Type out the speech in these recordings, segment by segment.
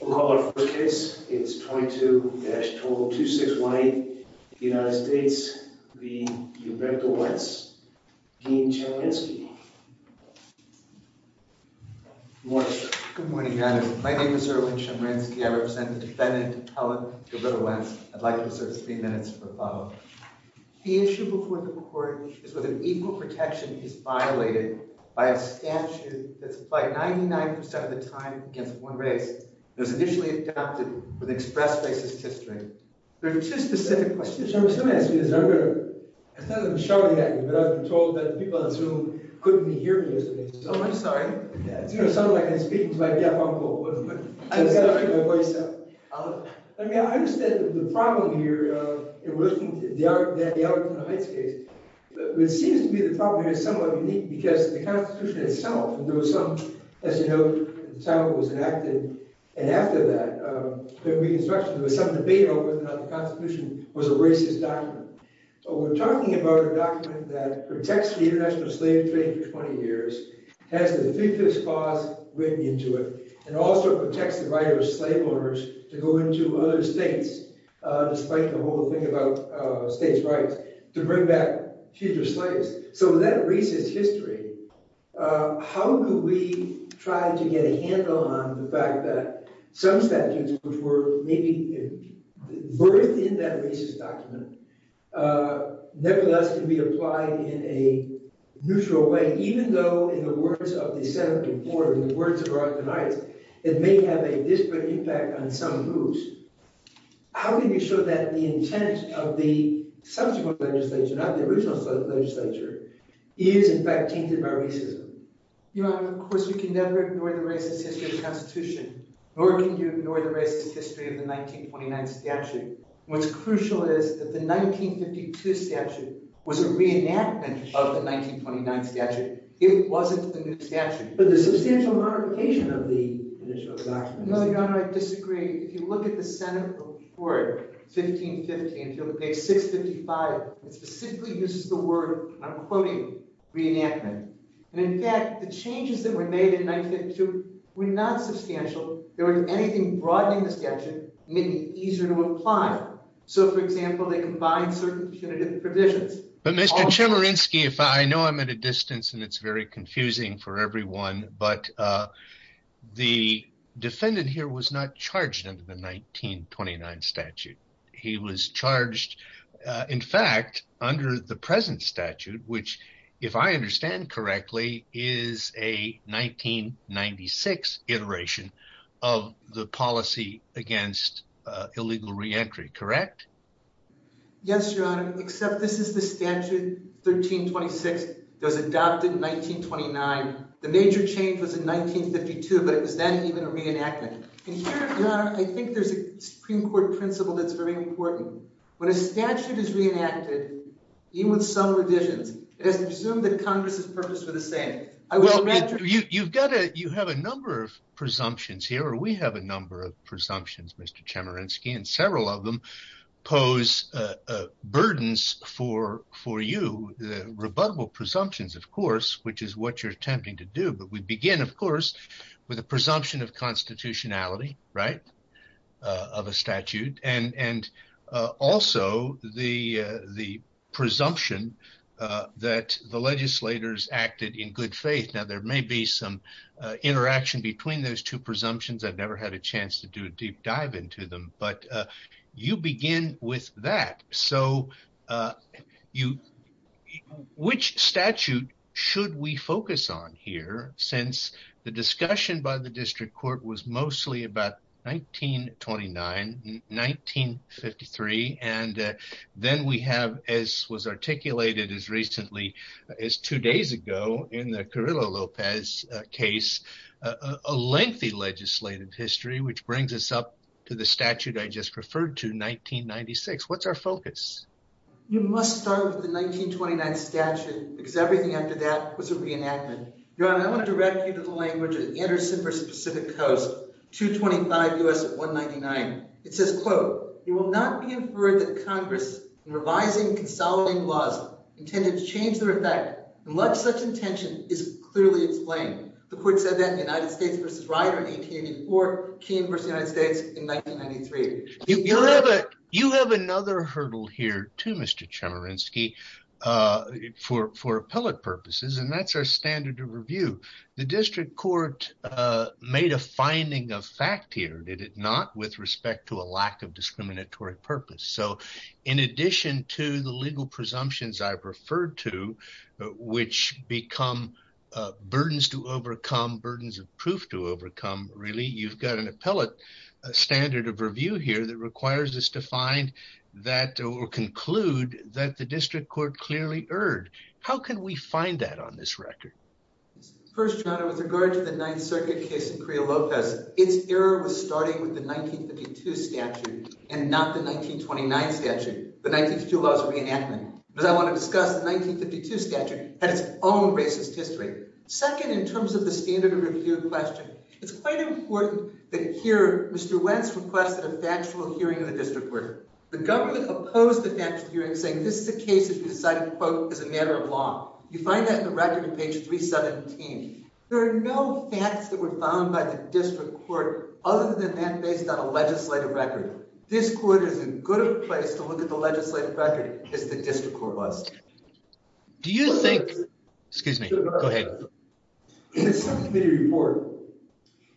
We'll call our first case. It is 22-20261A, United States v. Gavrilo Wence. Dean Chemerinsky. Good morning. My name is Erwin Chemerinsky. I represent the defendant, Helen Gavrilo Wence. I'd like to reserve three minutes for follow-up. The issue before the court is whether equal protection is violated by a statute that's applied 99% of the time against one race. It was initially adopted for the express basis of history. There are two specific questions. I was going to ask you this. I'm not going to shout at you, but I've been told that the people in this room couldn't hear me yesterday. Oh, I'm sorry. You know, someone like me speaking might be a problem. I'm sorry. I mean, I understand the problem here in relation to the Arlington Heights case. But it seems to me the problem here is somewhat unique because the Constitution itself, and there was some, as you know, the time it was enacted, and after that, the Reconstruction, there was some debate over whether or not the Constitution was a racist document. But we're talking about a document that protects the international slave trade for 20 years, has the three-fifths clause written into it, and also protects the right of slave owners to go into other states, despite the whole thing about states' rights, to bring back future slaves. So that racist history, how do we try to get a handle on the fact that some statutes, which were maybe birthed in that racist document, nevertheless can be applied in a neutral way, even though in the words of the Senate report, in the words of Arlington Heights, it may have a disparate impact on some groups? How can you show that the intent of the subsequent legislature, not the original legislature, is in fact tainted by racism? Your Honor, of course, we can never ignore the racist history of the Constitution, nor can you ignore the racist history of the 1929 statute. What's crucial is that the 1952 statute was a reenactment of the 1929 statute. It wasn't the new statute. But there's substantial modification of the initial document. No, Your Honor, I disagree. If you look at the Senate report, 1515, page 655, it specifically uses the word, I'm quoting, reenactment. And in fact, the changes that were made in 1952 were not substantial. There wasn't anything broadening the statute, making it easier to apply. So, for example, they combined certain definitive provisions. But, Mr. Chemerinsky, I know I'm at a distance and it's very confusing for everyone, but the defendant here was not charged under the 1929 statute. He was charged, in fact, under the present statute, which, if I understand correctly, is a 1996 iteration of the policy against illegal reentry, correct? Yes, Your Honor, except this is the statute, 1326, that was adopted in 1929. The major change was in 1952, but it was then even reenacted. And here, Your Honor, I think there's a Supreme Court principle that's very important. When a statute is reenacted, even with some revisions, it is presumed that Congress is purposefully the same. You have a number of presumptions here, or we have a number of presumptions, Mr. Chemerinsky, and several of them pose burdens for you. The rebuttable presumptions, of course, which is what you're attempting to do, but we begin, of course, with a presumption of constitutionality, right, of a statute. And also, the presumption that the legislators acted in good faith. Now, there may be some interaction between those two presumptions. I've never had a chance to do a deep dive into them, but you begin with that. So, which statute should we focus on here, since the discussion by the District Court was mostly about 1929, 1953, and then we have, as was articulated as recently as two days ago in the Carrillo-Lopez case, a lengthy legislative history, which brings us up to the statute I just referred to, 1996. What's our focus? You must start with the 1929 statute, because everything after that was a reenactment. Your Honor, I want to direct you to the language of the Anderson v. Pacific Coast, 225 U.S. 199. It says, quote, you will not be inferred that Congress, in revising and consolidating laws, intended to change their effect, unless such intention is clearly explained. The court said that in the United States v. Ryder in 1884, Keene v. United States in 1993. You have another hurdle here, too, Mr. Chemerinsky, for appellate purposes, and that's our standard of review. The District Court made a finding of fact here, did it not, with respect to a lack of discriminatory purpose. So in addition to the legal presumptions I referred to, which become burdens to overcome, burdens of proof to overcome, really, you've got an appellate standard of review here that requires us to find that or conclude that the District Court clearly erred. How can we find that on this record? First, Your Honor, with regard to the Ninth Circuit case in Crio Lopez, its error was starting with the 1952 statute and not the 1929 statute. The 1952 law is a reenactment. But I want to discuss the 1952 statute and its own racist history. Second, in terms of the standard of review question, it's quite important that here Mr. Wentz requested a factual hearing of the District Court. The government opposed the factual hearing, saying this is a case that we decided, quote, is a matter of law. You find that in the record on page 317. There are no facts that were found by the District Court other than that based on a legislative record. This court is as good a place to look at the legislative record as the District Court was. Do you think—excuse me, go ahead. In the Senate Committee report,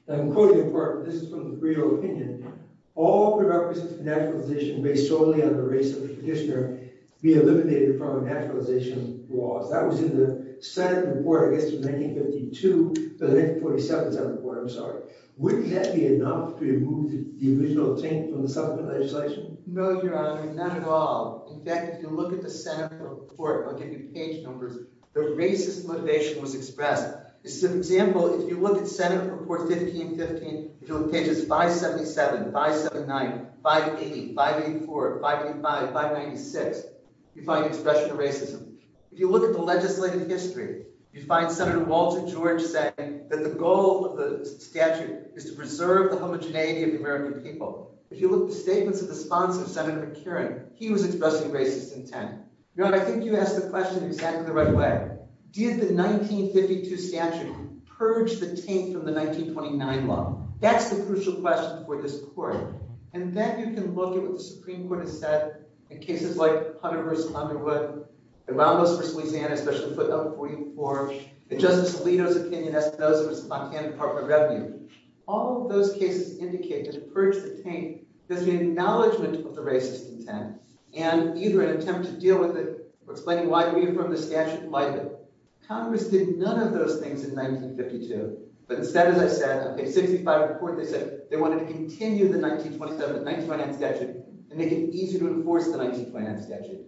and I'm quoting the report. This is from the Crio opinion. All productive naturalization based solely on the race of the petitioner be eliminated from naturalization laws. That was in the Senate report, I guess, from 1952. The 1947 Senate report, I'm sorry. Wouldn't that be enough to remove the original thing from the supplement legislation? No, Your Honor, not at all. In fact, if you look at the Senate report, I'll give you page numbers, the racist motivation was expressed. As an example, if you look at Senate report 1515, if you look at pages 577, 579, 580, 584, 585, 596, you find expression of racism. If you look at the legislative history, you find Senator Walter George saying that the goal of the statute is to preserve the homogeneity of the American people. If you look at the statements of the sponsor, Senator McCarran, he was expressing racist intent. Your Honor, I think you asked the question in exactly the right way. Did the 1952 statute purge the taint from the 1929 law? That's the crucial question for this court. And then you can look at what the Supreme Court has said in cases like Hunter v. Underwood, the Ramos v. Louisiana, especially footnote 44, and Justice Alito's opinion as to those of his Montana Department of Revenue. All of those cases indicate that the purge of the taint is an acknowledgment of the racist intent, and either an attempt to deal with it or explain why it reaffirmed the statute might have. Congress did none of those things in 1952. But instead, as I said, in page 65 of the court, they said they wanted to continue the 1927 and 1929 statute and make it easier to enforce the 1929 statute.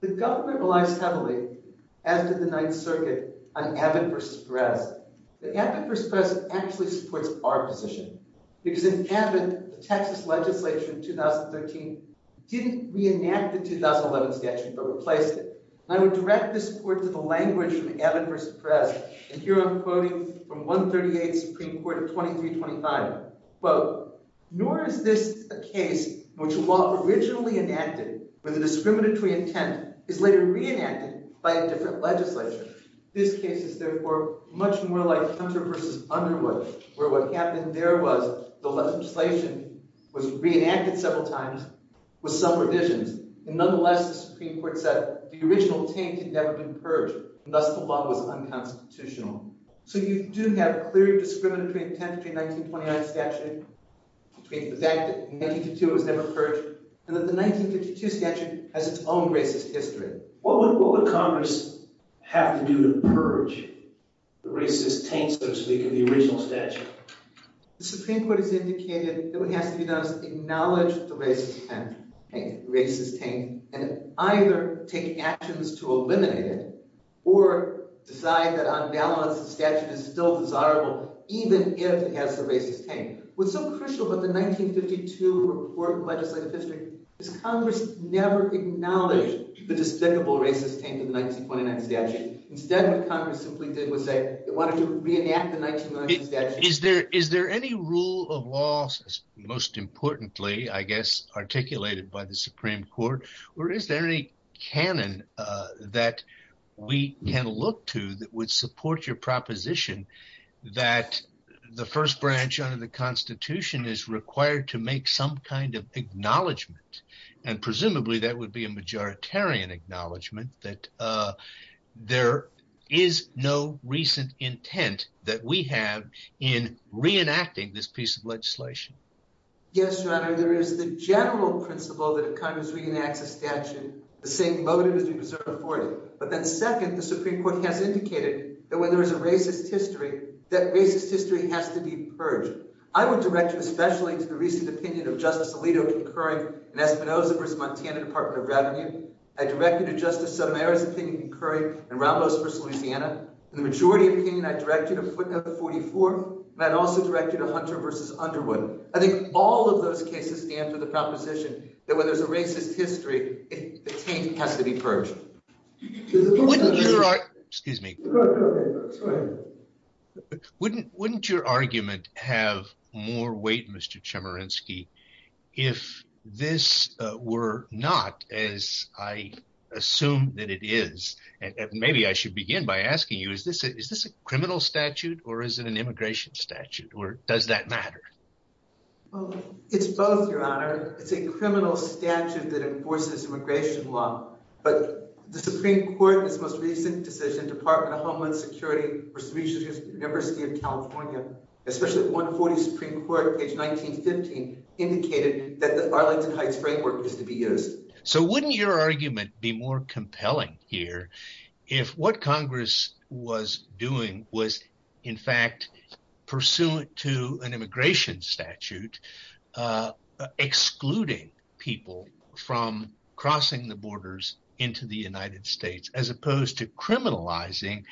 The government relies heavily, as did the Ninth Circuit, on evid for stress. But evid for stress actually supports our position. Because in evid, the Texas legislature in 2013 didn't reenact the 2011 statute but replaced it. And I would direct this court to the language from evid for stress. And here I'm quoting from 138th Supreme Court of 2325. Quote, nor is this a case in which a law originally enacted with a discriminatory intent is later reenacted by a different legislature. This case is, therefore, much more like Hunter v. Underwood, where what happened there was the legislation was reenacted several times with some revisions. And nonetheless, the Supreme Court said the original taint had never been purged, and thus the law was unconstitutional. So you do have a clear discriminatory intent between the 1929 statute, between the fact that in 1952 it was never purged, and that the 1952 statute has its own racist history. What would Congress have to do to purge the racist taint, so to speak, of the original statute? The Supreme Court has indicated that what has to be done is acknowledge the racist taint and either take actions to eliminate it or decide that on balance the statute is still desirable, even if it has the racist taint. What's so crucial about the 1952 report on legislative history is Congress never acknowledged the despicable racist taint of the 1929 statute. Instead, what Congress simply did was say, why don't you reenact the 1929 statute? Is there any rule of law, most importantly, I guess, articulated by the Supreme Court, or is there any canon that we can look to that would support your proposition that the first branch under the Constitution is required to make some kind of acknowledgement? And presumably that would be a majoritarian acknowledgement that there is no recent intent that we have in reenacting this piece of legislation. Yes, Your Honor, there is the general principle that if Congress reenacts a statute, the same motive is reserved for it. But then second, the Supreme Court has indicated that when there is a racist history, that racist history has to be purged. I would direct you especially to the recent opinion of Justice Alito concurring in Espinosa v. Montana Department of Revenue. I direct you to Justice Samara's opinion concurring in Ramos v. Louisiana. In the majority opinion, I direct you to footnote 44, and I'd also direct you to Hunter v. Underwood. I think all of those cases stand for the proposition that when there's a racist history, the taint has to be purged. Wouldn't your argument have more weight, Mr. Chemerinsky, if this were not as I assume that it is? And maybe I should begin by asking you, is this a criminal statute or is it an immigration statute or does that matter? It's both, Your Honor. It's a criminal statute that enforces immigration law. But the Supreme Court in its most recent decision, Department of Homeland Security v. University of California, especially 140 Supreme Court, page 1915, indicated that the Arlington Heights framework is to be used. So wouldn't your argument be more compelling here if what Congress was doing was, in fact, pursuant to an immigration statute, excluding people from crossing the borders into the United States as opposed to criminalizing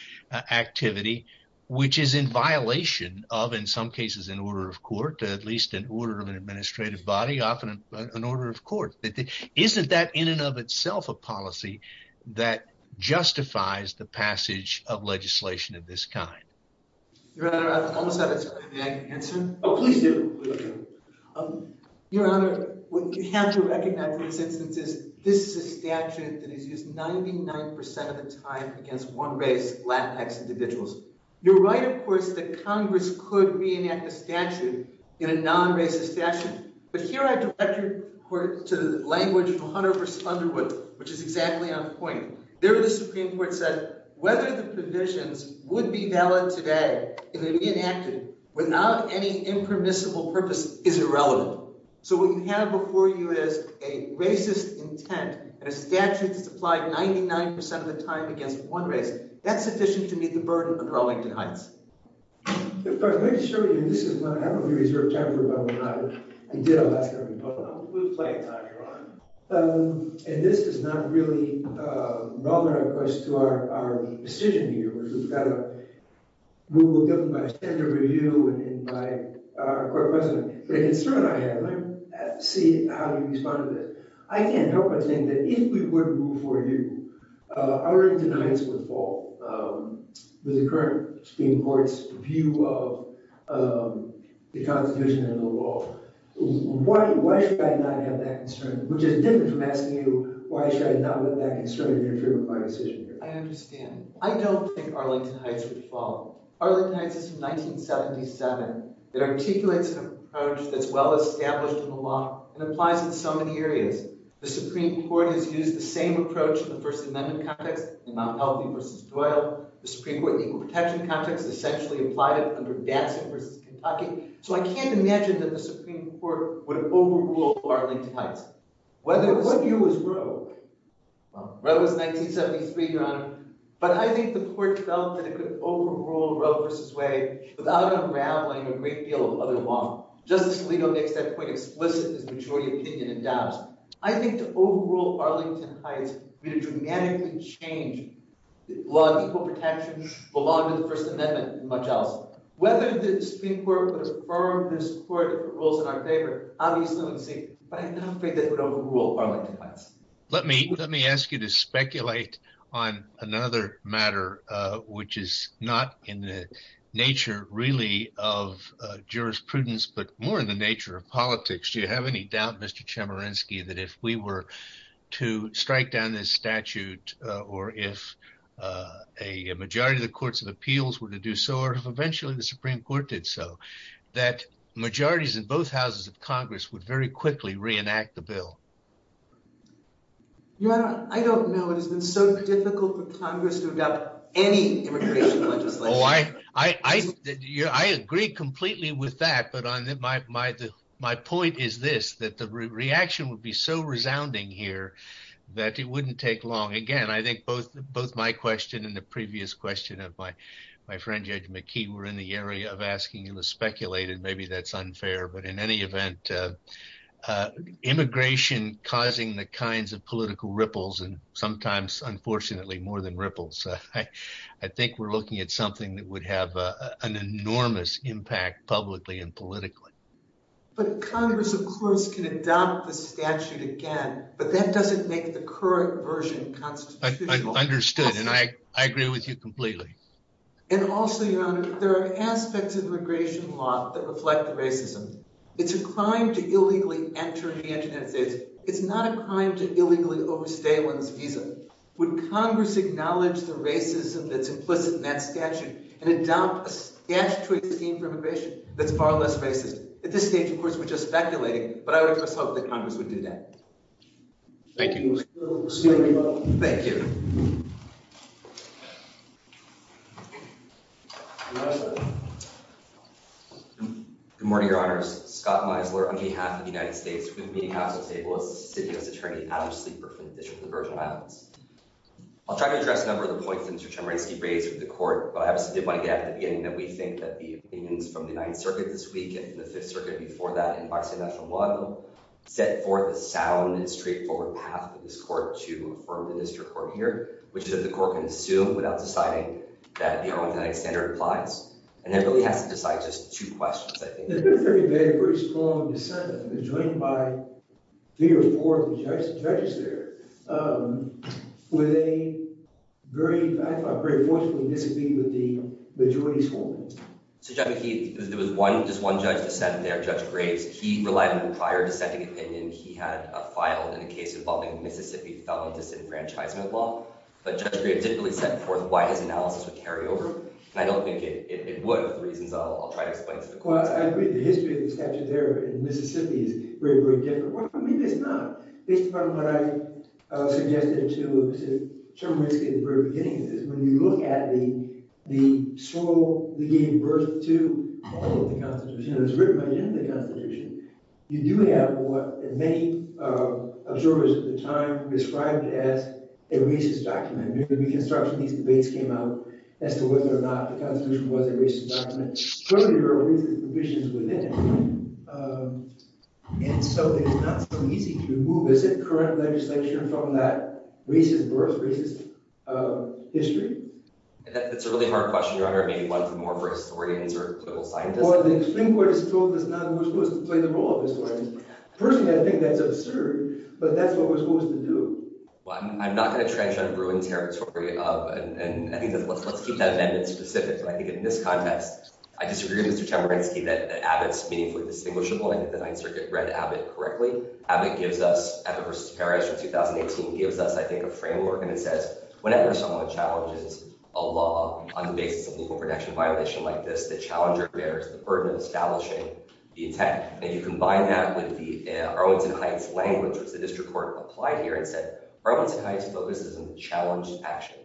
activity, which is in violation of, in some cases, an order of court, at least an order of an administrative body, often an order of court? Isn't that in and of itself a policy that justifies the passage of legislation of this kind? Your Honor, I almost have an answer. May I answer? Oh, please do. Your Honor, what you have to recognize in this instance is this is a statute that is used 99 percent of the time against one race, Latinx individuals. You're right, of course, that Congress could reenact a statute in a non-racist statute. But here I direct your report to the language of Hunter v. Underwood, which is exactly on point. There the Supreme Court said whether the provisions would be valid today if they're reenacted without any impermissible purpose is irrelevant. So what you have before you is a racist intent and a statute that's applied 99 percent of the time against one race. That's sufficient to meet the burden of Arlington Heights. Your Honor, let me show you. This is one I haven't really reserved time for, but I did, I'll ask everybody. And this is not really rather a question to our decision here. We've got a ruling given by a standard review and by our court president. The concern I have, let me see how you respond to this. I can't help but think that if we would move for you, Arlington Heights would fall with the current Supreme Court's view of the Constitution and the law. Why should I not have that concern? Which is different from asking you why should I not have that concern if you're in favor of my decision here. I understand. I don't think Arlington Heights would fall. Arlington Heights is from 1977. It articulates an approach that's well established in the law and applies in so many areas. The Supreme Court has used the same approach in the First Amendment context in Mount Helvey v. Doyle. The Supreme Court in the equal protection context essentially applied it under Datsun v. Kentucky. So I can't imagine that the Supreme Court would overrule Arlington Heights. What view is Roe? Roe is 1973, Your Honor. But I think the court felt that it could overrule Roe v. Wade without unraveling a great deal of other law. Justice Alito makes that point explicit in his majority opinion in Dobbs. I think to overrule Arlington Heights would dramatically change the law of equal protection, the law under the First Amendment, and much else. Whether the Supreme Court would affirm this court rules in our favor, obviously we'll see. But I'm not afraid that it would overrule Arlington Heights. Let me ask you to speculate on another matter which is not in the nature really of jurisprudence but more in the nature of politics. Do you have any doubt, Mr. Chemerinsky, that if we were to strike down this statute or if a majority of the courts of appeals were to do so or if eventually the Supreme Court did so, that majorities in both houses of Congress would very quickly reenact the bill? Your Honor, I don't know. It has been so difficult for Congress to adopt any immigration legislation. I agree completely with that. But my point is this, that the reaction would be so resounding here that it wouldn't take long. Again, I think both my question and the previous question of my friend Judge McKee were in the area of asking. It was speculated. Maybe that's unfair. But in any event, immigration causing the kinds of political ripples and sometimes, unfortunately, more than ripples, I think we're looking at something that would have an enormous impact publicly and politically. But Congress, of course, can adopt the statute again. But that doesn't make the current version constitutional. Understood. And I agree with you completely. And also, Your Honor, there are aspects of immigration law that reflect racism. It's a crime to illegally enter the United States. It's not a crime to illegally overstay one's visa. Would Congress acknowledge the racism that's implicit in that statute and adopt a statutory scheme for immigration that's far less racist? At this stage, of course, we're just speculating. But I would of course hope that Congress would do that. Thank you. Thank you. Your Honor. Good morning, Your Honors. Scott Meisler on behalf of the United States. Good evening, House of Tables. This is City U.S. Attorney Adam Sleeper from the District of the Virgin Islands. I'll try to address a number of the points that Mr. Chemerinsky raised with the court. But I obviously did want to get at the beginning that we think that the opinions from the 9th Circuit this week and from the 5th Circuit before that and by state and national law set forth a sound and straightforward path for this court to affirm the district court here, which is that the court can assume without deciding. And I think that the Arlington Act standard applies. And it really has to decide just two questions, I think. There's been a very vague, very strong dissent that's been joined by three or four of the judges there with a very – I find it very forceful in disagreeing with the majority's holdings. So, Judge McKee, there was one – just one judge dissented there, Judge Graves. He relied on a prior dissenting opinion. He had a file in a case involving Mississippi felon disenfranchisement law. But Judge Graves didn't really set forth why his analysis would carry over. And I don't think it would for the reasons I'll try to explain to the court. Well, I agree. The history of the statute there in Mississippi is very, very different. I mean, it's not. This is part of what I suggested to Mr. Chemerinsky at the very beginning, is when you look at the soil that gave birth to the Arlington Constitution and was written by the Arlington Constitution, you do have what many observers at the time described as a racist law. It was a racist document. During the Reconstruction, these debates came out as to whether or not the Constitution was a racist document. Clearly, there were racist provisions within it. And so, it's not so easy to remove. Is it current legislation from that racist birth, racist history? That's a really hard question, Your Honor. Maybe one more for historians or political scientists. Well, the Supreme Court has told us now who's supposed to play the role of historians. Personally, I think that's absurd. But that's what we're supposed to do. Well, I'm not going to trench on a ruined territory of—and let's keep that amendment specific. But I think in this context, I disagree with Mr. Chemerinsky that Abbott's meaningfully distinguishable. I think the Ninth Circuit read Abbott correctly. Abbott gives us—Abbott v. Perez from 2018—gives us, I think, a framework. And it says, whenever someone challenges a law on the basis of a legal protection violation like this, the challenger bears the burden of establishing the intent. And you combine that with the Arwins and Heights language, which the district court applied here and said, Arwins and Heights focuses on the challenged action.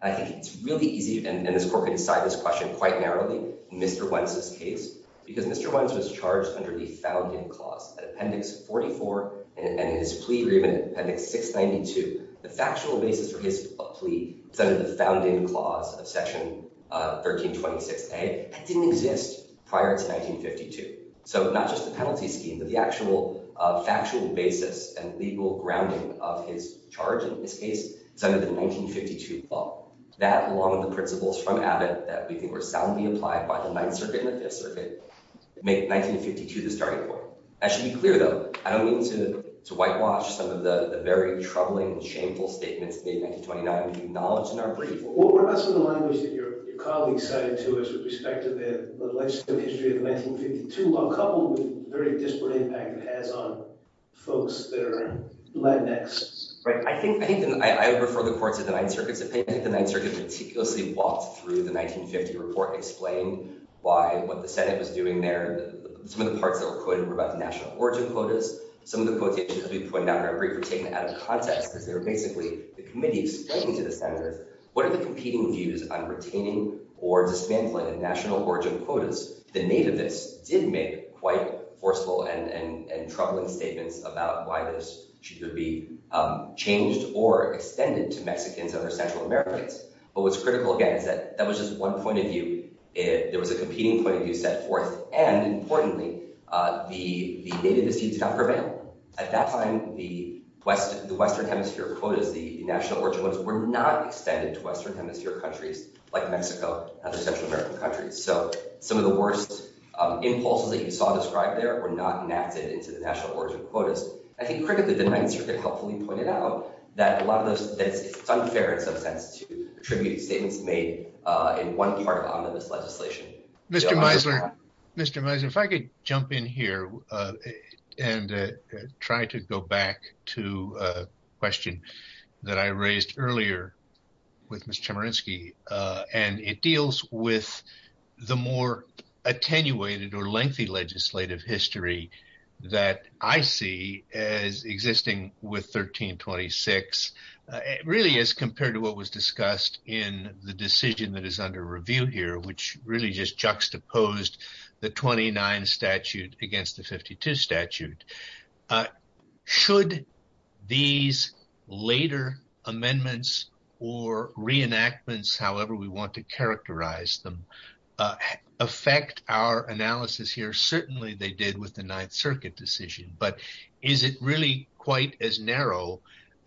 I think it's really easy—and this court can decide this question quite narrowly—Mr. Wentz's case. Because Mr. Wentz was charged under the found-in clause at Appendix 44 and in his plea agreement at Appendix 692. The factual basis for his plea was under the found-in clause of Section 1326a. That didn't exist prior to 1952. So not just the penalty scheme, but the actual factual basis and legal grounding of his charge in this case is under the 1952 law. That, along with the principles from Abbott that we think were soundly applied by the Ninth Circuit and the Fifth Circuit, make 1952 the starting point. I should be clear, though, I don't mean to whitewash some of the very troubling and shameful statements made in 1929. We acknowledge in our brief— What about some of the language that your colleagues cited to us with respect to the legislative history of 1952, while coupled with the very disparate impact it has on folks that are Latinx? Right. I think— I think—I would refer the court to the Ninth Circuit's opinion. I think the Ninth Circuit meticulously walked through the 1950 report and explained why—what the Senate was doing there. Some of the parts that were quoted were about the national origin quotas. Some of the quotations that we put down in our brief were taken out of context because they were basically— they were competing views on retaining or dismantling the national origin quotas. The nativists did make quite forceful and troubling statements about why this should be changed or extended to Mexicans or Central Americans. But what's critical, again, is that that was just one point of view. There was a competing point of view set forth, and, importantly, the nativist views got prevailed. At that time, the Western Hemisphere quotas, the national origin ones, were not extended to Western Hemisphere countries like Mexico and other Central American countries. So some of the worst impulses that you saw described there were not enacted into the national origin quotas. I think, critically, the Ninth Circuit helpfully pointed out that a lot of those— that it's unfair, in some sense, to attribute statements made in one part onto this legislation. Mr. Meisler, if I could jump in here and try to go back to a question that I raised earlier with Ms. Chemerinsky. And it deals with the more attenuated or lengthy legislative history that I see as existing with 1326. Really, as compared to what was discussed in the decision that is under review here, which really just juxtaposed the 29 statute against the 52 statute. Should these later amendments or reenactments, however we want to characterize them, affect our analysis here? Certainly they did with the Ninth Circuit decision. But is it really quite as narrow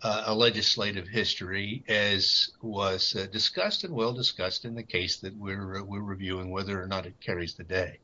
a legislative history as was discussed and well discussed in the case that we're reviewing, whether or not it carries the day?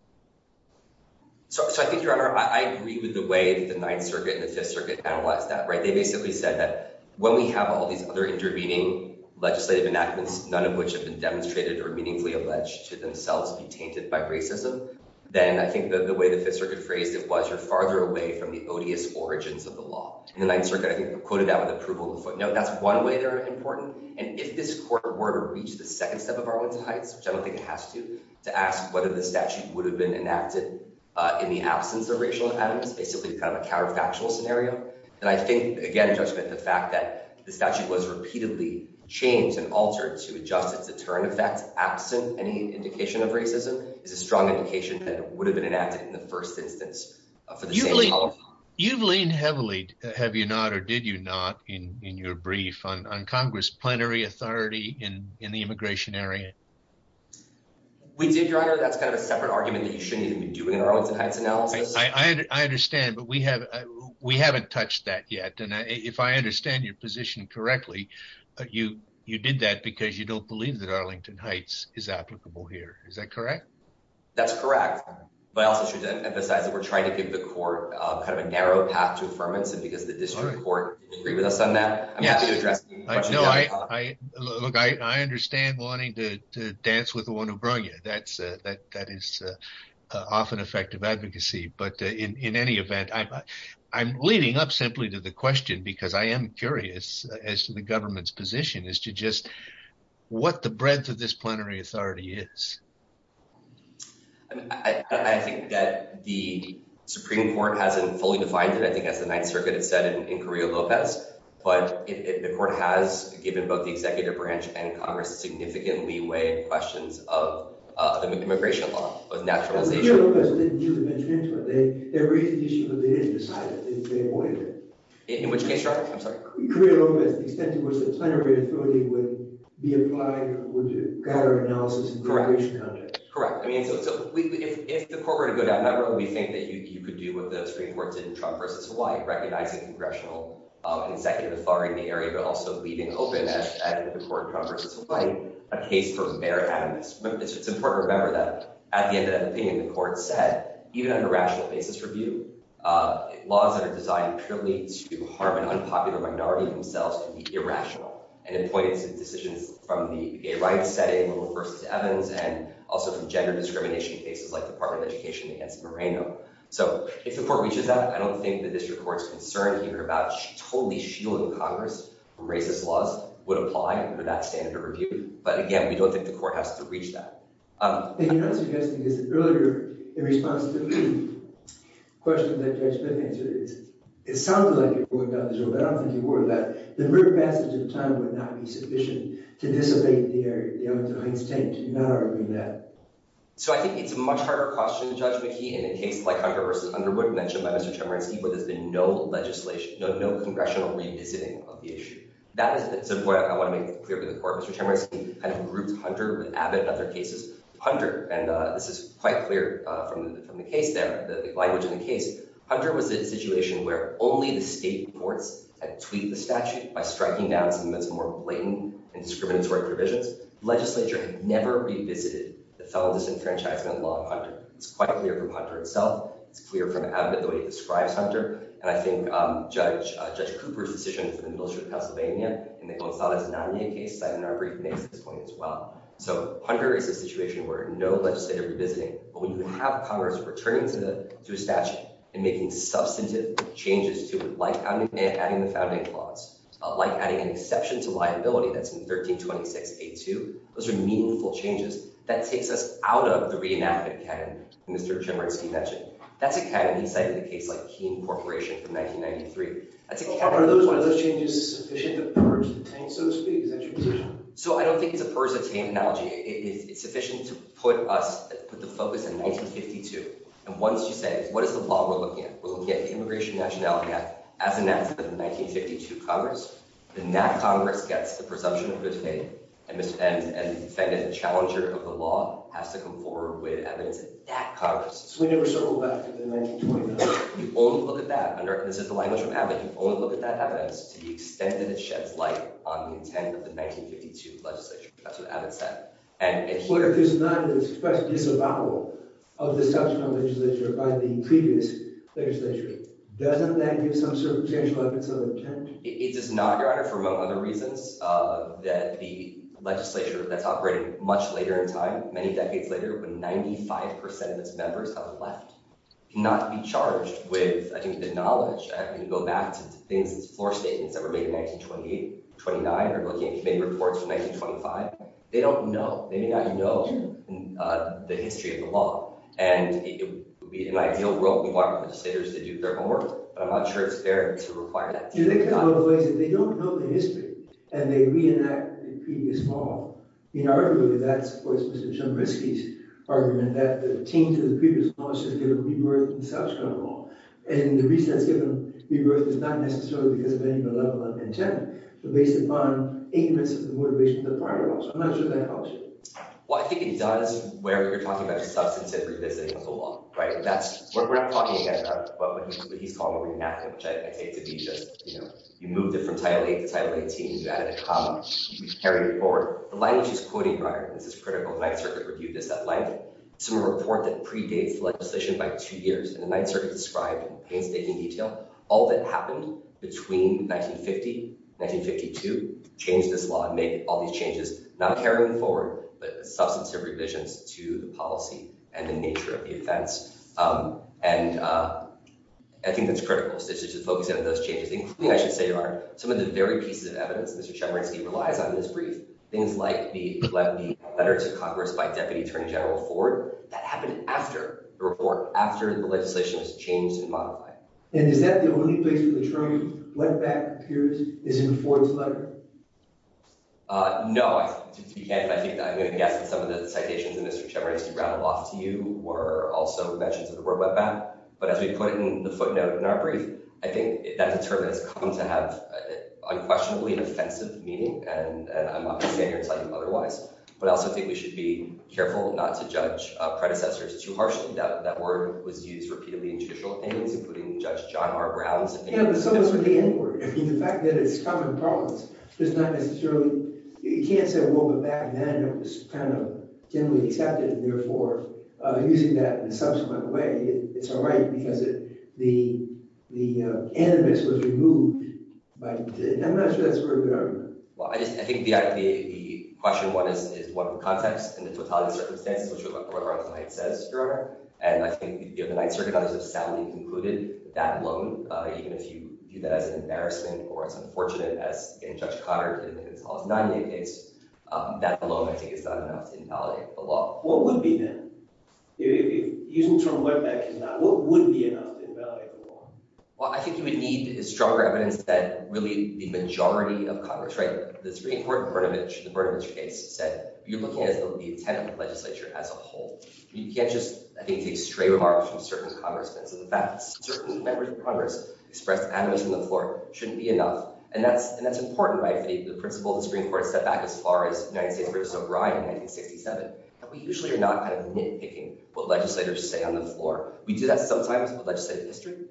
So I think, Your Honor, I agree with the way that the Ninth Circuit and the Fifth Circuit analyzed that. They basically said that when we have all these other intervening legislative enactments, none of which have been demonstrated or meaningfully alleged to themselves to be tainted by racism, then I think the way the Fifth Circuit phrased it was you're farther away from the odious origins of the law. And the Ninth Circuit, I think, quoted that with approval of the footnote. That's one way they're important. And if this court were to reach the second step of Arwin's Heights, which I don't think it has to, to ask whether the statute would have been enacted in the absence of racial animus, basically kind of a counterfactual scenario, then I think, again, in judgment, the fact that the statute was repeatedly changed and altered to adjust its deterrent effects absent any indication of racism is a strong indication that it would have been enacted in the first instance. You've leaned heavily, have you not, or did you not, in your brief on Congress plenary authority in the immigration area? We did, Your Honor. That's kind of a separate argument that you shouldn't even be doing in our Arwin's Heights analysis. I understand, but we haven't touched that yet. And if I understand your position correctly, you did that because you don't believe that Arlington Heights is applicable here. Is that correct? That's correct. But I also should emphasize that we're trying to give the court kind of a narrow path to affirmation because the district court didn't agree with us on that. I'm happy to address any questions. Look, I understand wanting to dance with the one who brought you. That is often effective advocacy. But in any event, I'm leading up simply to the question because I am curious as to the government's position as to just what the breadth of this plenary authority is. I think that the Supreme Court hasn't fully defined it, I think, as the Ninth Circuit has said in Correa-Lopez. But the court has given both the executive branch and Congress significant leeway in questions of the immigration law, of naturalization. Correa-Lopez didn't even mention it. They raised the issue, but they didn't decide it. They avoided it. Correct. Correct. I mean, so if the court were to go down that road, we think that you could do what the Supreme Court did in Trump v. Hawaii, recognizing congressional and executive authority in the area, but also leaving open at the court in Trump v. Hawaii a case for bare animus. It's important to remember that at the end of that opinion, the court said, even under rational basis review, laws that are designed purely to harm an unpopular minority themselves can be irrational. And it pointed to decisions from the gay rights setting, liberal v. Evans, and also from gender discrimination cases like the Department of Education against Moreno. So if the court reaches that, I don't think the district court's concern here about totally shielding Congress from racist laws would apply under that standard of review. But, again, we don't think the court has to reach that. The thing I'm suggesting is that earlier, in response to the question that Judge McKee answered, it sounded like you were going down the road, but I don't think you were, that the mere passage of time would not be sufficient to dissipate the area. Do you not agree with that? So I think it's a much harder question, Judge McKee, in a case like Hunter v. Underwood mentioned by Mr. Chemerinsky, where there's been no legislation, no congressional revisiting of the issue. That is where I want to make it clear for the court. Mr. Chemerinsky kind of grouped Hunter with Abbott and other cases. Hunter, and this is quite clear from the case there, the language in the case, Hunter was a situation where only the state courts had tweeted the statute by striking down some of its more blatant and discriminatory provisions. Legislature had never revisited the felon disenfranchisement law of Hunter. It's quite clear from Hunter itself. It's clear from Abbott, the way he describes Hunter. And I think Judge Cooper's decision for the Military of Pennsylvania in the Gonzalez-Nanier case is cited in our brief next at this point as well. So Hunter is a situation where no legislative revisiting, but when you have Congress returning to a statute and making substantive changes to it, like adding the founding clause, like adding an exception to liability, that's in 1326a2, those are meaningful changes. That takes us out of the reenactment canon that Mr. Chemerinsky mentioned. That's a canon he cited in a case like Keene Corporation from 1993. Are those changes sufficient to purge the taint, so to speak? So I don't think it's a purge the taint analogy. It's sufficient to put us, put the focus in 1952. And once you say, what is the flaw we're looking at? We're looking at the Immigration and Nationality Act as enacted in the 1952 Congress. Then that Congress gets the presumption of good faith, and the defendant, the challenger of the law, has to come forward with evidence in that Congress. So we never circle back to the 1929? You only look at that. This is the language from Abbott. You only look at that evidence to the extent that it sheds light on the intent of the 1952 legislature. That's what Abbott said. What if there's not an express disavowal of the South Carolina legislature by the previous legislature? Doesn't that give some sort of potential evidence of intent? It does not, Your Honor, for among other reasons. The legislature that's operating much later in time, many decades later, when 95% of its members have left, cannot be charged with, I think, the knowledge. I'm going to go back to the floor statements that were made in 1928, 29, or looking at committee reports from 1925. They don't know. They may not know the history of the law. And it would be an ideal world we want legislators to do their homework. But I'm not sure it's fair to require that. They don't know the history, and they reenact the previous law. Arguably, that supports Mr. Shumrisky's argument that the change of the previous law should give a rebirth in South Carolina law. And the reason that's given rebirth is not necessarily because of any of the level of intent. It's based upon ignorance of the motivation of the prior law. So I'm not sure that helps. Well, I think it does where you're talking about substantive revisiting of the law. We're not talking again about what he's calling a reenactment, which I take to be just, you know, you moved it from Title VIII to Title XVIII. You added a comma. You carried it forward. The language he's quoting, Robert—this is critical. The Ninth Circuit reviewed this at length. It's a report that predates the legislation by two years. And the Ninth Circuit described in painstaking detail all that happened between 1950 and 1952, changed this law, and made all these changes. Not carrying forward, but substantive revisions to the policy and the nature of the offense. And I think that's critical. So just to focus in on those changes, including, I should say, some of the very pieces of evidence. Mr. Shumrisky relies on in this brief things like the letter to Congress by Deputy Attorney General Ford that happened after the report, after the legislation was changed and modified. And is that the only place where the attorney went back and appears is in Ford's letter? No. I think I'm going to guess that some of the citations that Mr. Shumrisky rattled off to you were also mentions of the road map. But as we put it in the footnote in our brief, I think that deterrent has come to have unquestionably offensive meaning, and I'm not going to stand here and tell you otherwise. But I also think we should be careful not to judge predecessors too harshly. That word was used repeatedly in judicial opinions, including Judge John R. Brown's opinion. Yeah, but so was with the N-word. I mean, the fact that it's common parlance does not necessarily – you can't say, well, but back then it was kind of generally accepted. And therefore, using that in a subsequent way, it's all right because the animus was removed. But I'm not sure that's a very good argument. Well, I just – I think the idea – the question is what the context and the totality of circumstances which are what Arthur Knight says, Your Honor. And I think the Knight Circuit auditors have soundly concluded that alone, even if you view that as an embarrassment or as unfortunate as in Judge Coddard's 1998 case, that alone I think is not enough to invalidate the law. What would be then? If using the term road map is not – what would be enough to invalidate the law? Well, I think you would need stronger evidence that really the majority of Congress, right, the Supreme Court in Brnovich, the Brnovich case, said you're looking at the intent of the legislature as a whole. You can't just, I think, take stray remarks from certain Congressmen. So the fact that certain members of Congress expressed animus on the floor shouldn't be enough. And that's important, right, for the principle the Supreme Court set back as far as United States versus O'Brien in 1967. And we usually are not kind of nitpicking what legislators say on the floor. We do that sometimes with legislative history,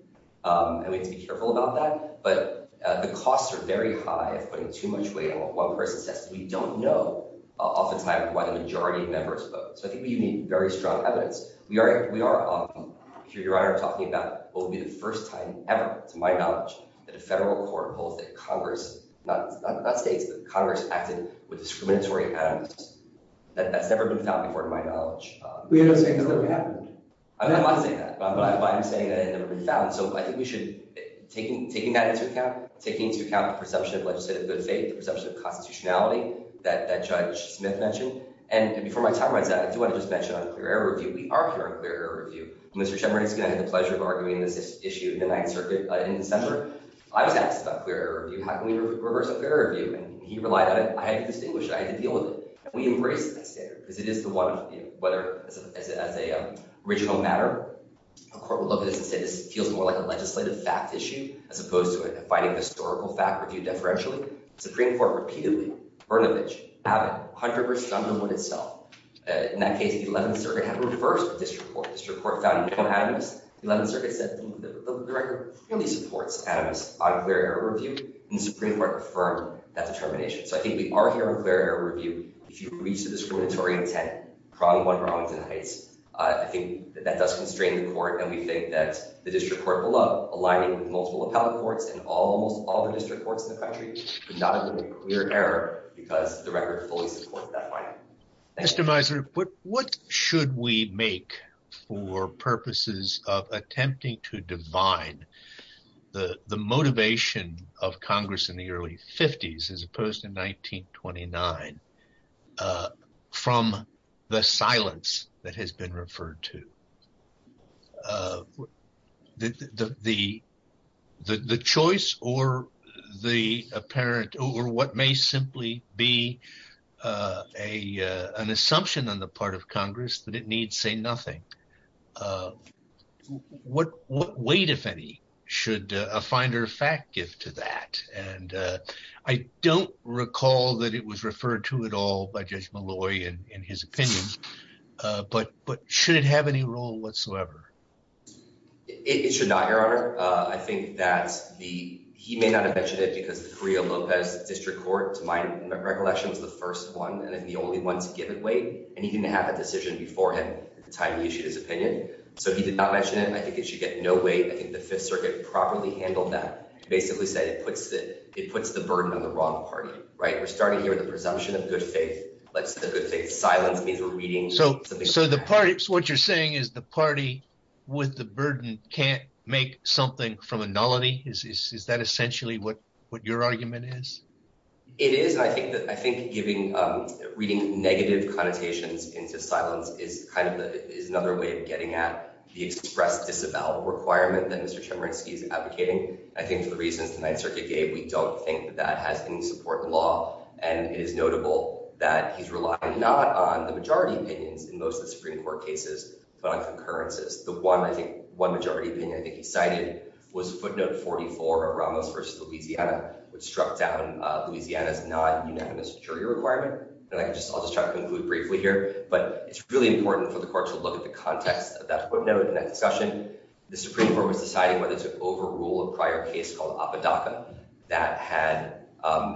and we have to be careful about that. But the costs are very high if putting too much weight on what one person says that we don't know oftentimes why the majority of members vote. So I think we need very strong evidence. We are, Your Honor, talking about what would be the first time ever, to my knowledge, that a federal court holds that Congress – not states, but Congress – acted with discriminatory animus. That's never been found before, to my knowledge. We're not saying that never happened. I'm not saying that, but I'm saying that it had never been found. So I think we should – taking that into account, taking into account the perception of legislative good faith, the perception of constitutionality that Judge Smith mentioned. And before my time runs out, I do want to just mention on clear error review. We are hearing clear error review. Mr. Chemerinsky and I had the pleasure of arguing this issue in the Ninth Circuit in December. I was asked about clear error review. How can we reverse clear error review? And he relied on it. I had to distinguish it. I had to deal with it. And we embraced that standard because it is the one – whether as a regional matter, a court would look at this and say this feels more like a legislative fact issue as opposed to a fighting historical fact review deferentially. The Supreme Court repeatedly, Brnovich, Abbott, Hunter v. Underwood itself. In that case, the Eleventh Circuit had reversed the district court. The district court found no animus. The Eleventh Circuit said the record clearly supports animus on clear error review. And the Supreme Court affirmed that determination. So I think we are hearing clear error review. If you reach the discriminatory intent, probably one for Arlington Heights, I think that does constrain the court. And we think that the district court below, aligning with multiple appellate courts and almost all the district courts in the country, could not agree with clear error because the record fully supports that finding. Mr. Mizer, what should we make for purposes of attempting to divine the motivation of Congress in the early 50s as opposed to 1929 from the silence that has been referred to? The choice or the apparent or what may simply be an assumption on the part of Congress that it needs say nothing. What weight, if any, should a finder of fact give to that? I don't recall that it was referred to at all by Judge Malloy in his opinion, but should it have any role whatsoever? It should not, Your Honor. I think that he may not have mentioned it because the Correa-Lopez District Court, to my recollection, was the first one and the only one to give it weight. And he didn't have a decision before him at the time he issued his opinion. So he did not mention it. I think it should get no weight. I think the Fifth Circuit properly handled that. It basically said it puts the burden on the wrong party, right? We're starting here with a presumption of good faith. Let's say the good faith silence means we're reading something. So the party – so what you're saying is the party with the burden can't make something from a nullity? Is that essentially what your argument is? It is, and I think giving – reading negative connotations into silence is kind of the – is another way of getting at the express disavowal requirement that Mr. Chemerinsky is advocating. I think for the reasons the Ninth Circuit gave, we don't think that that has any support in law. And it is notable that he's relying not on the majority opinions in most of the Supreme Court cases but on concurrences. The one, I think – one majority opinion I think he cited was footnote 44 of Ramos v. Louisiana, which struck down Louisiana's not-unanimous jury requirement. And I can just – I'll just try to conclude briefly here. But it's really important for the court to look at the context of that footnote in that discussion. The Supreme Court was deciding whether to overrule a prior case called Apodaca that had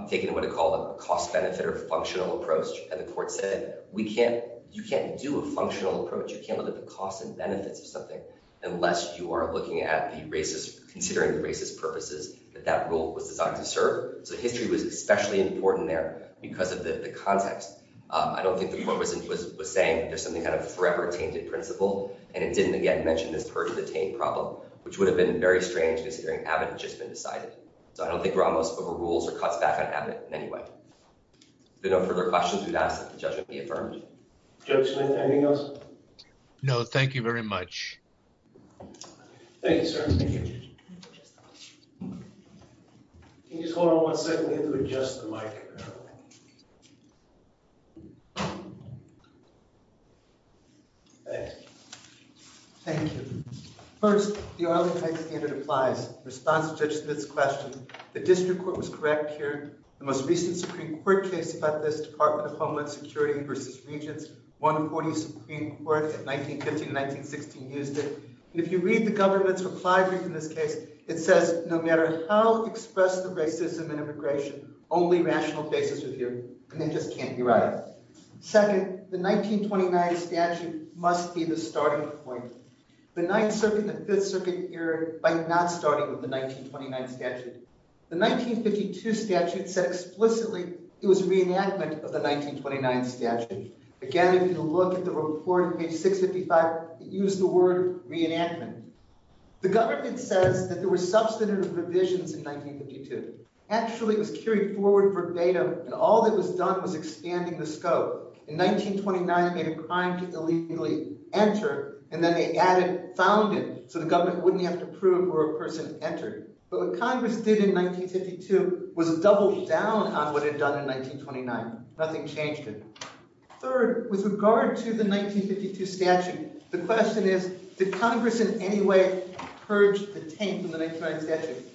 taken what it called a cost-benefit or functional approach. And the court said we can't – you can't do a functional approach. You can't look at the costs and benefits of something unless you are looking at the racist – considering the racist purposes that that rule was designed to serve. So history was especially important there because of the context. I don't think the court was saying there's something kind of forever tainted principle. And it didn't, again, mention this purge of the taint problem, which would have been very strange considering Apodaca had just been decided. So I don't think Ramos overrules or cuts back on Apodaca in any way. If there are no further questions, we would ask that the judgment be affirmed. Judge Smith, anything else? No, thank you very much. Thank you, sir. Thank you, Judge. Can you just hold on one second? We have to adjust the mic. Thanks. Thank you. First, the Arlington Act standard applies. In response to Judge Smith's question, the district court was correct here. The most recent Supreme Court case about this, Department of Homeland Security v. Regents, 140 Supreme Court, 1915 to 1916, used it. And if you read the government's reply brief in this case, it says, no matter how expressed the racism in immigration, only rational basis is here. And they just can't be right. Second, the 1929 statute must be the starting point. The Ninth Circuit and the Fifth Circuit erred by not starting with the 1929 statute. The 1952 statute said explicitly it was a reenactment of the 1929 statute. Again, if you look at the report on page 655, it used the word reenactment. The government says that there were substantive revisions in 1952. Actually, it was carried forward verbatim, and all that was done was expanding the scope. In 1929, they had a crime to illegally enter, and then they added founded, so the government wouldn't have to prove where a person entered. But what Congress did in 1952 was double down on what it had done in 1929. Nothing changed it. Third, with regard to the 1952 statute, the question is, did Congress in any way purge the taint from the 1929 statute?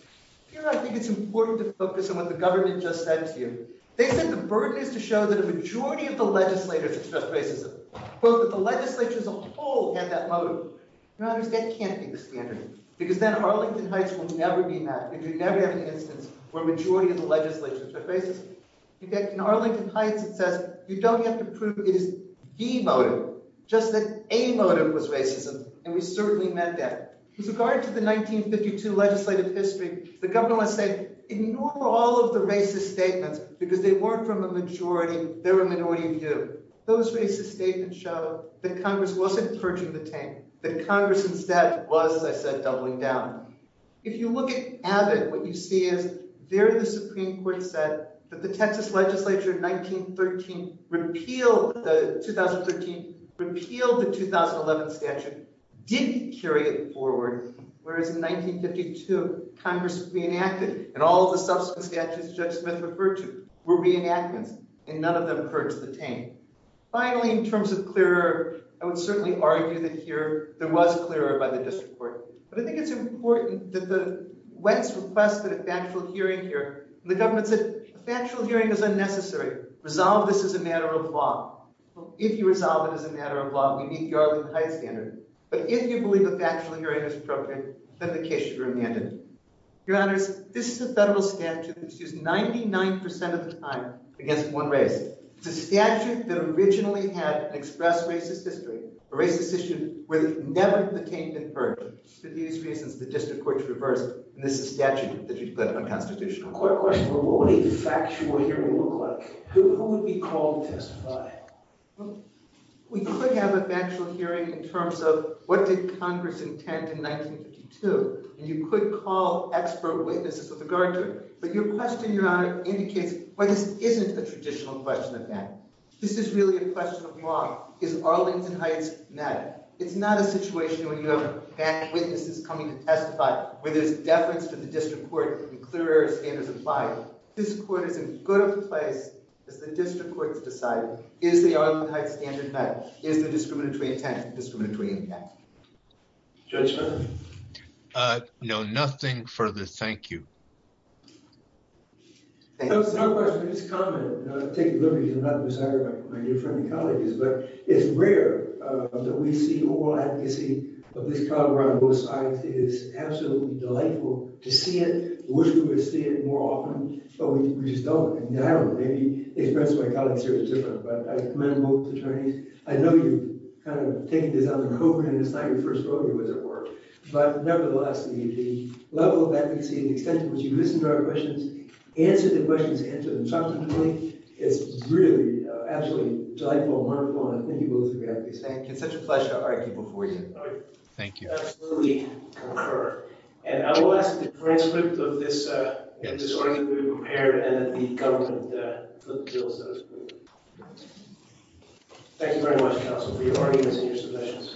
Here, I think it's important to focus on what the government just said to you. They said the burden is to show that a majority of the legislators expressed racism, but that the legislature as a whole had that motive. Now, that can't be the standard, because then Arlington Heights will never be mapped. We could never have an instance where a majority of the legislature expressed racism. In fact, in Arlington Heights, it says you don't have to prove it is the motive, just that a motive was racism, and we certainly meant that. With regard to the 1952 legislative history, the government said ignore all of the racist statements, because they weren't from a majority. They were a minority view. Those racist statements show that Congress wasn't purging the taint, that Congress instead was, as I said, doubling down. If you look at Abbott, what you see is there the Supreme Court said that the Texas legislature in 1913 repealed the 2013, repealed the 2011 statute, didn't carry it forward, whereas in 1952, Congress reenacted, and all of the subsequent statutes Judge Smith referred to were reenactments, and none of them purged the taint. Finally, in terms of clearer, I would certainly argue that here there was clearer by the district court. But I think it's important that when it's requested a factual hearing here, the government said a factual hearing is unnecessary. Resolve this as a matter of law. If you resolve it as a matter of law, we meet the Arlington Heights standard. But if you believe a factual hearing is appropriate, then the case should be remanded. Your Honors, this is a federal statute that's used 99% of the time against one race. It's a statute that originally had an express racist history, a racist history where the taint had never been purged. For these reasons, the district court reversed, and this is a statute that should go to unconstitutional court. My question is, what would a factual hearing look like? Who would be called to testify? We could have a factual hearing in terms of what did Congress intend in 1952, and you could call expert witnesses with regard to it. But your question, Your Honor, indicates why this isn't a traditional question of matter. This is really a question of law. Is Arlington Heights matter? It's not a situation where you have witnesses coming to testify, where there's deference to the district court, and clear standards apply. This court is in good place as the district court to decide, is the Arlington Heights standard matter? Is the discriminatory intent discriminatory? Judge Feinberg? No, nothing further. Thank you. It's not a question. It's a comment. I'll take it literally because I'm not the presiding judge. My new friend and colleague is. But it's rare that we see oral advocacy of this kind around both sides. It is absolutely delightful to see it. I wish we would see it more often, but we just don't. I don't know. Maybe the experience of my colleagues here is different, but I commend both attorneys. I know you've kind of taken this on the road, and it's not your first road. It was at work. But, nevertheless, the level of advocacy and the extent to which you listen to our questions, answer the questions, answer them truthfully, is really absolutely delightful and wonderful, and I thank you both for your advocacy. Thank you. It's such a pleasure to argue before you. Thank you. I absolutely concur. And I will ask the transcript of this argument to be prepared and that the government look through it. Thank you very much, counsel, for your arguments and your submissions.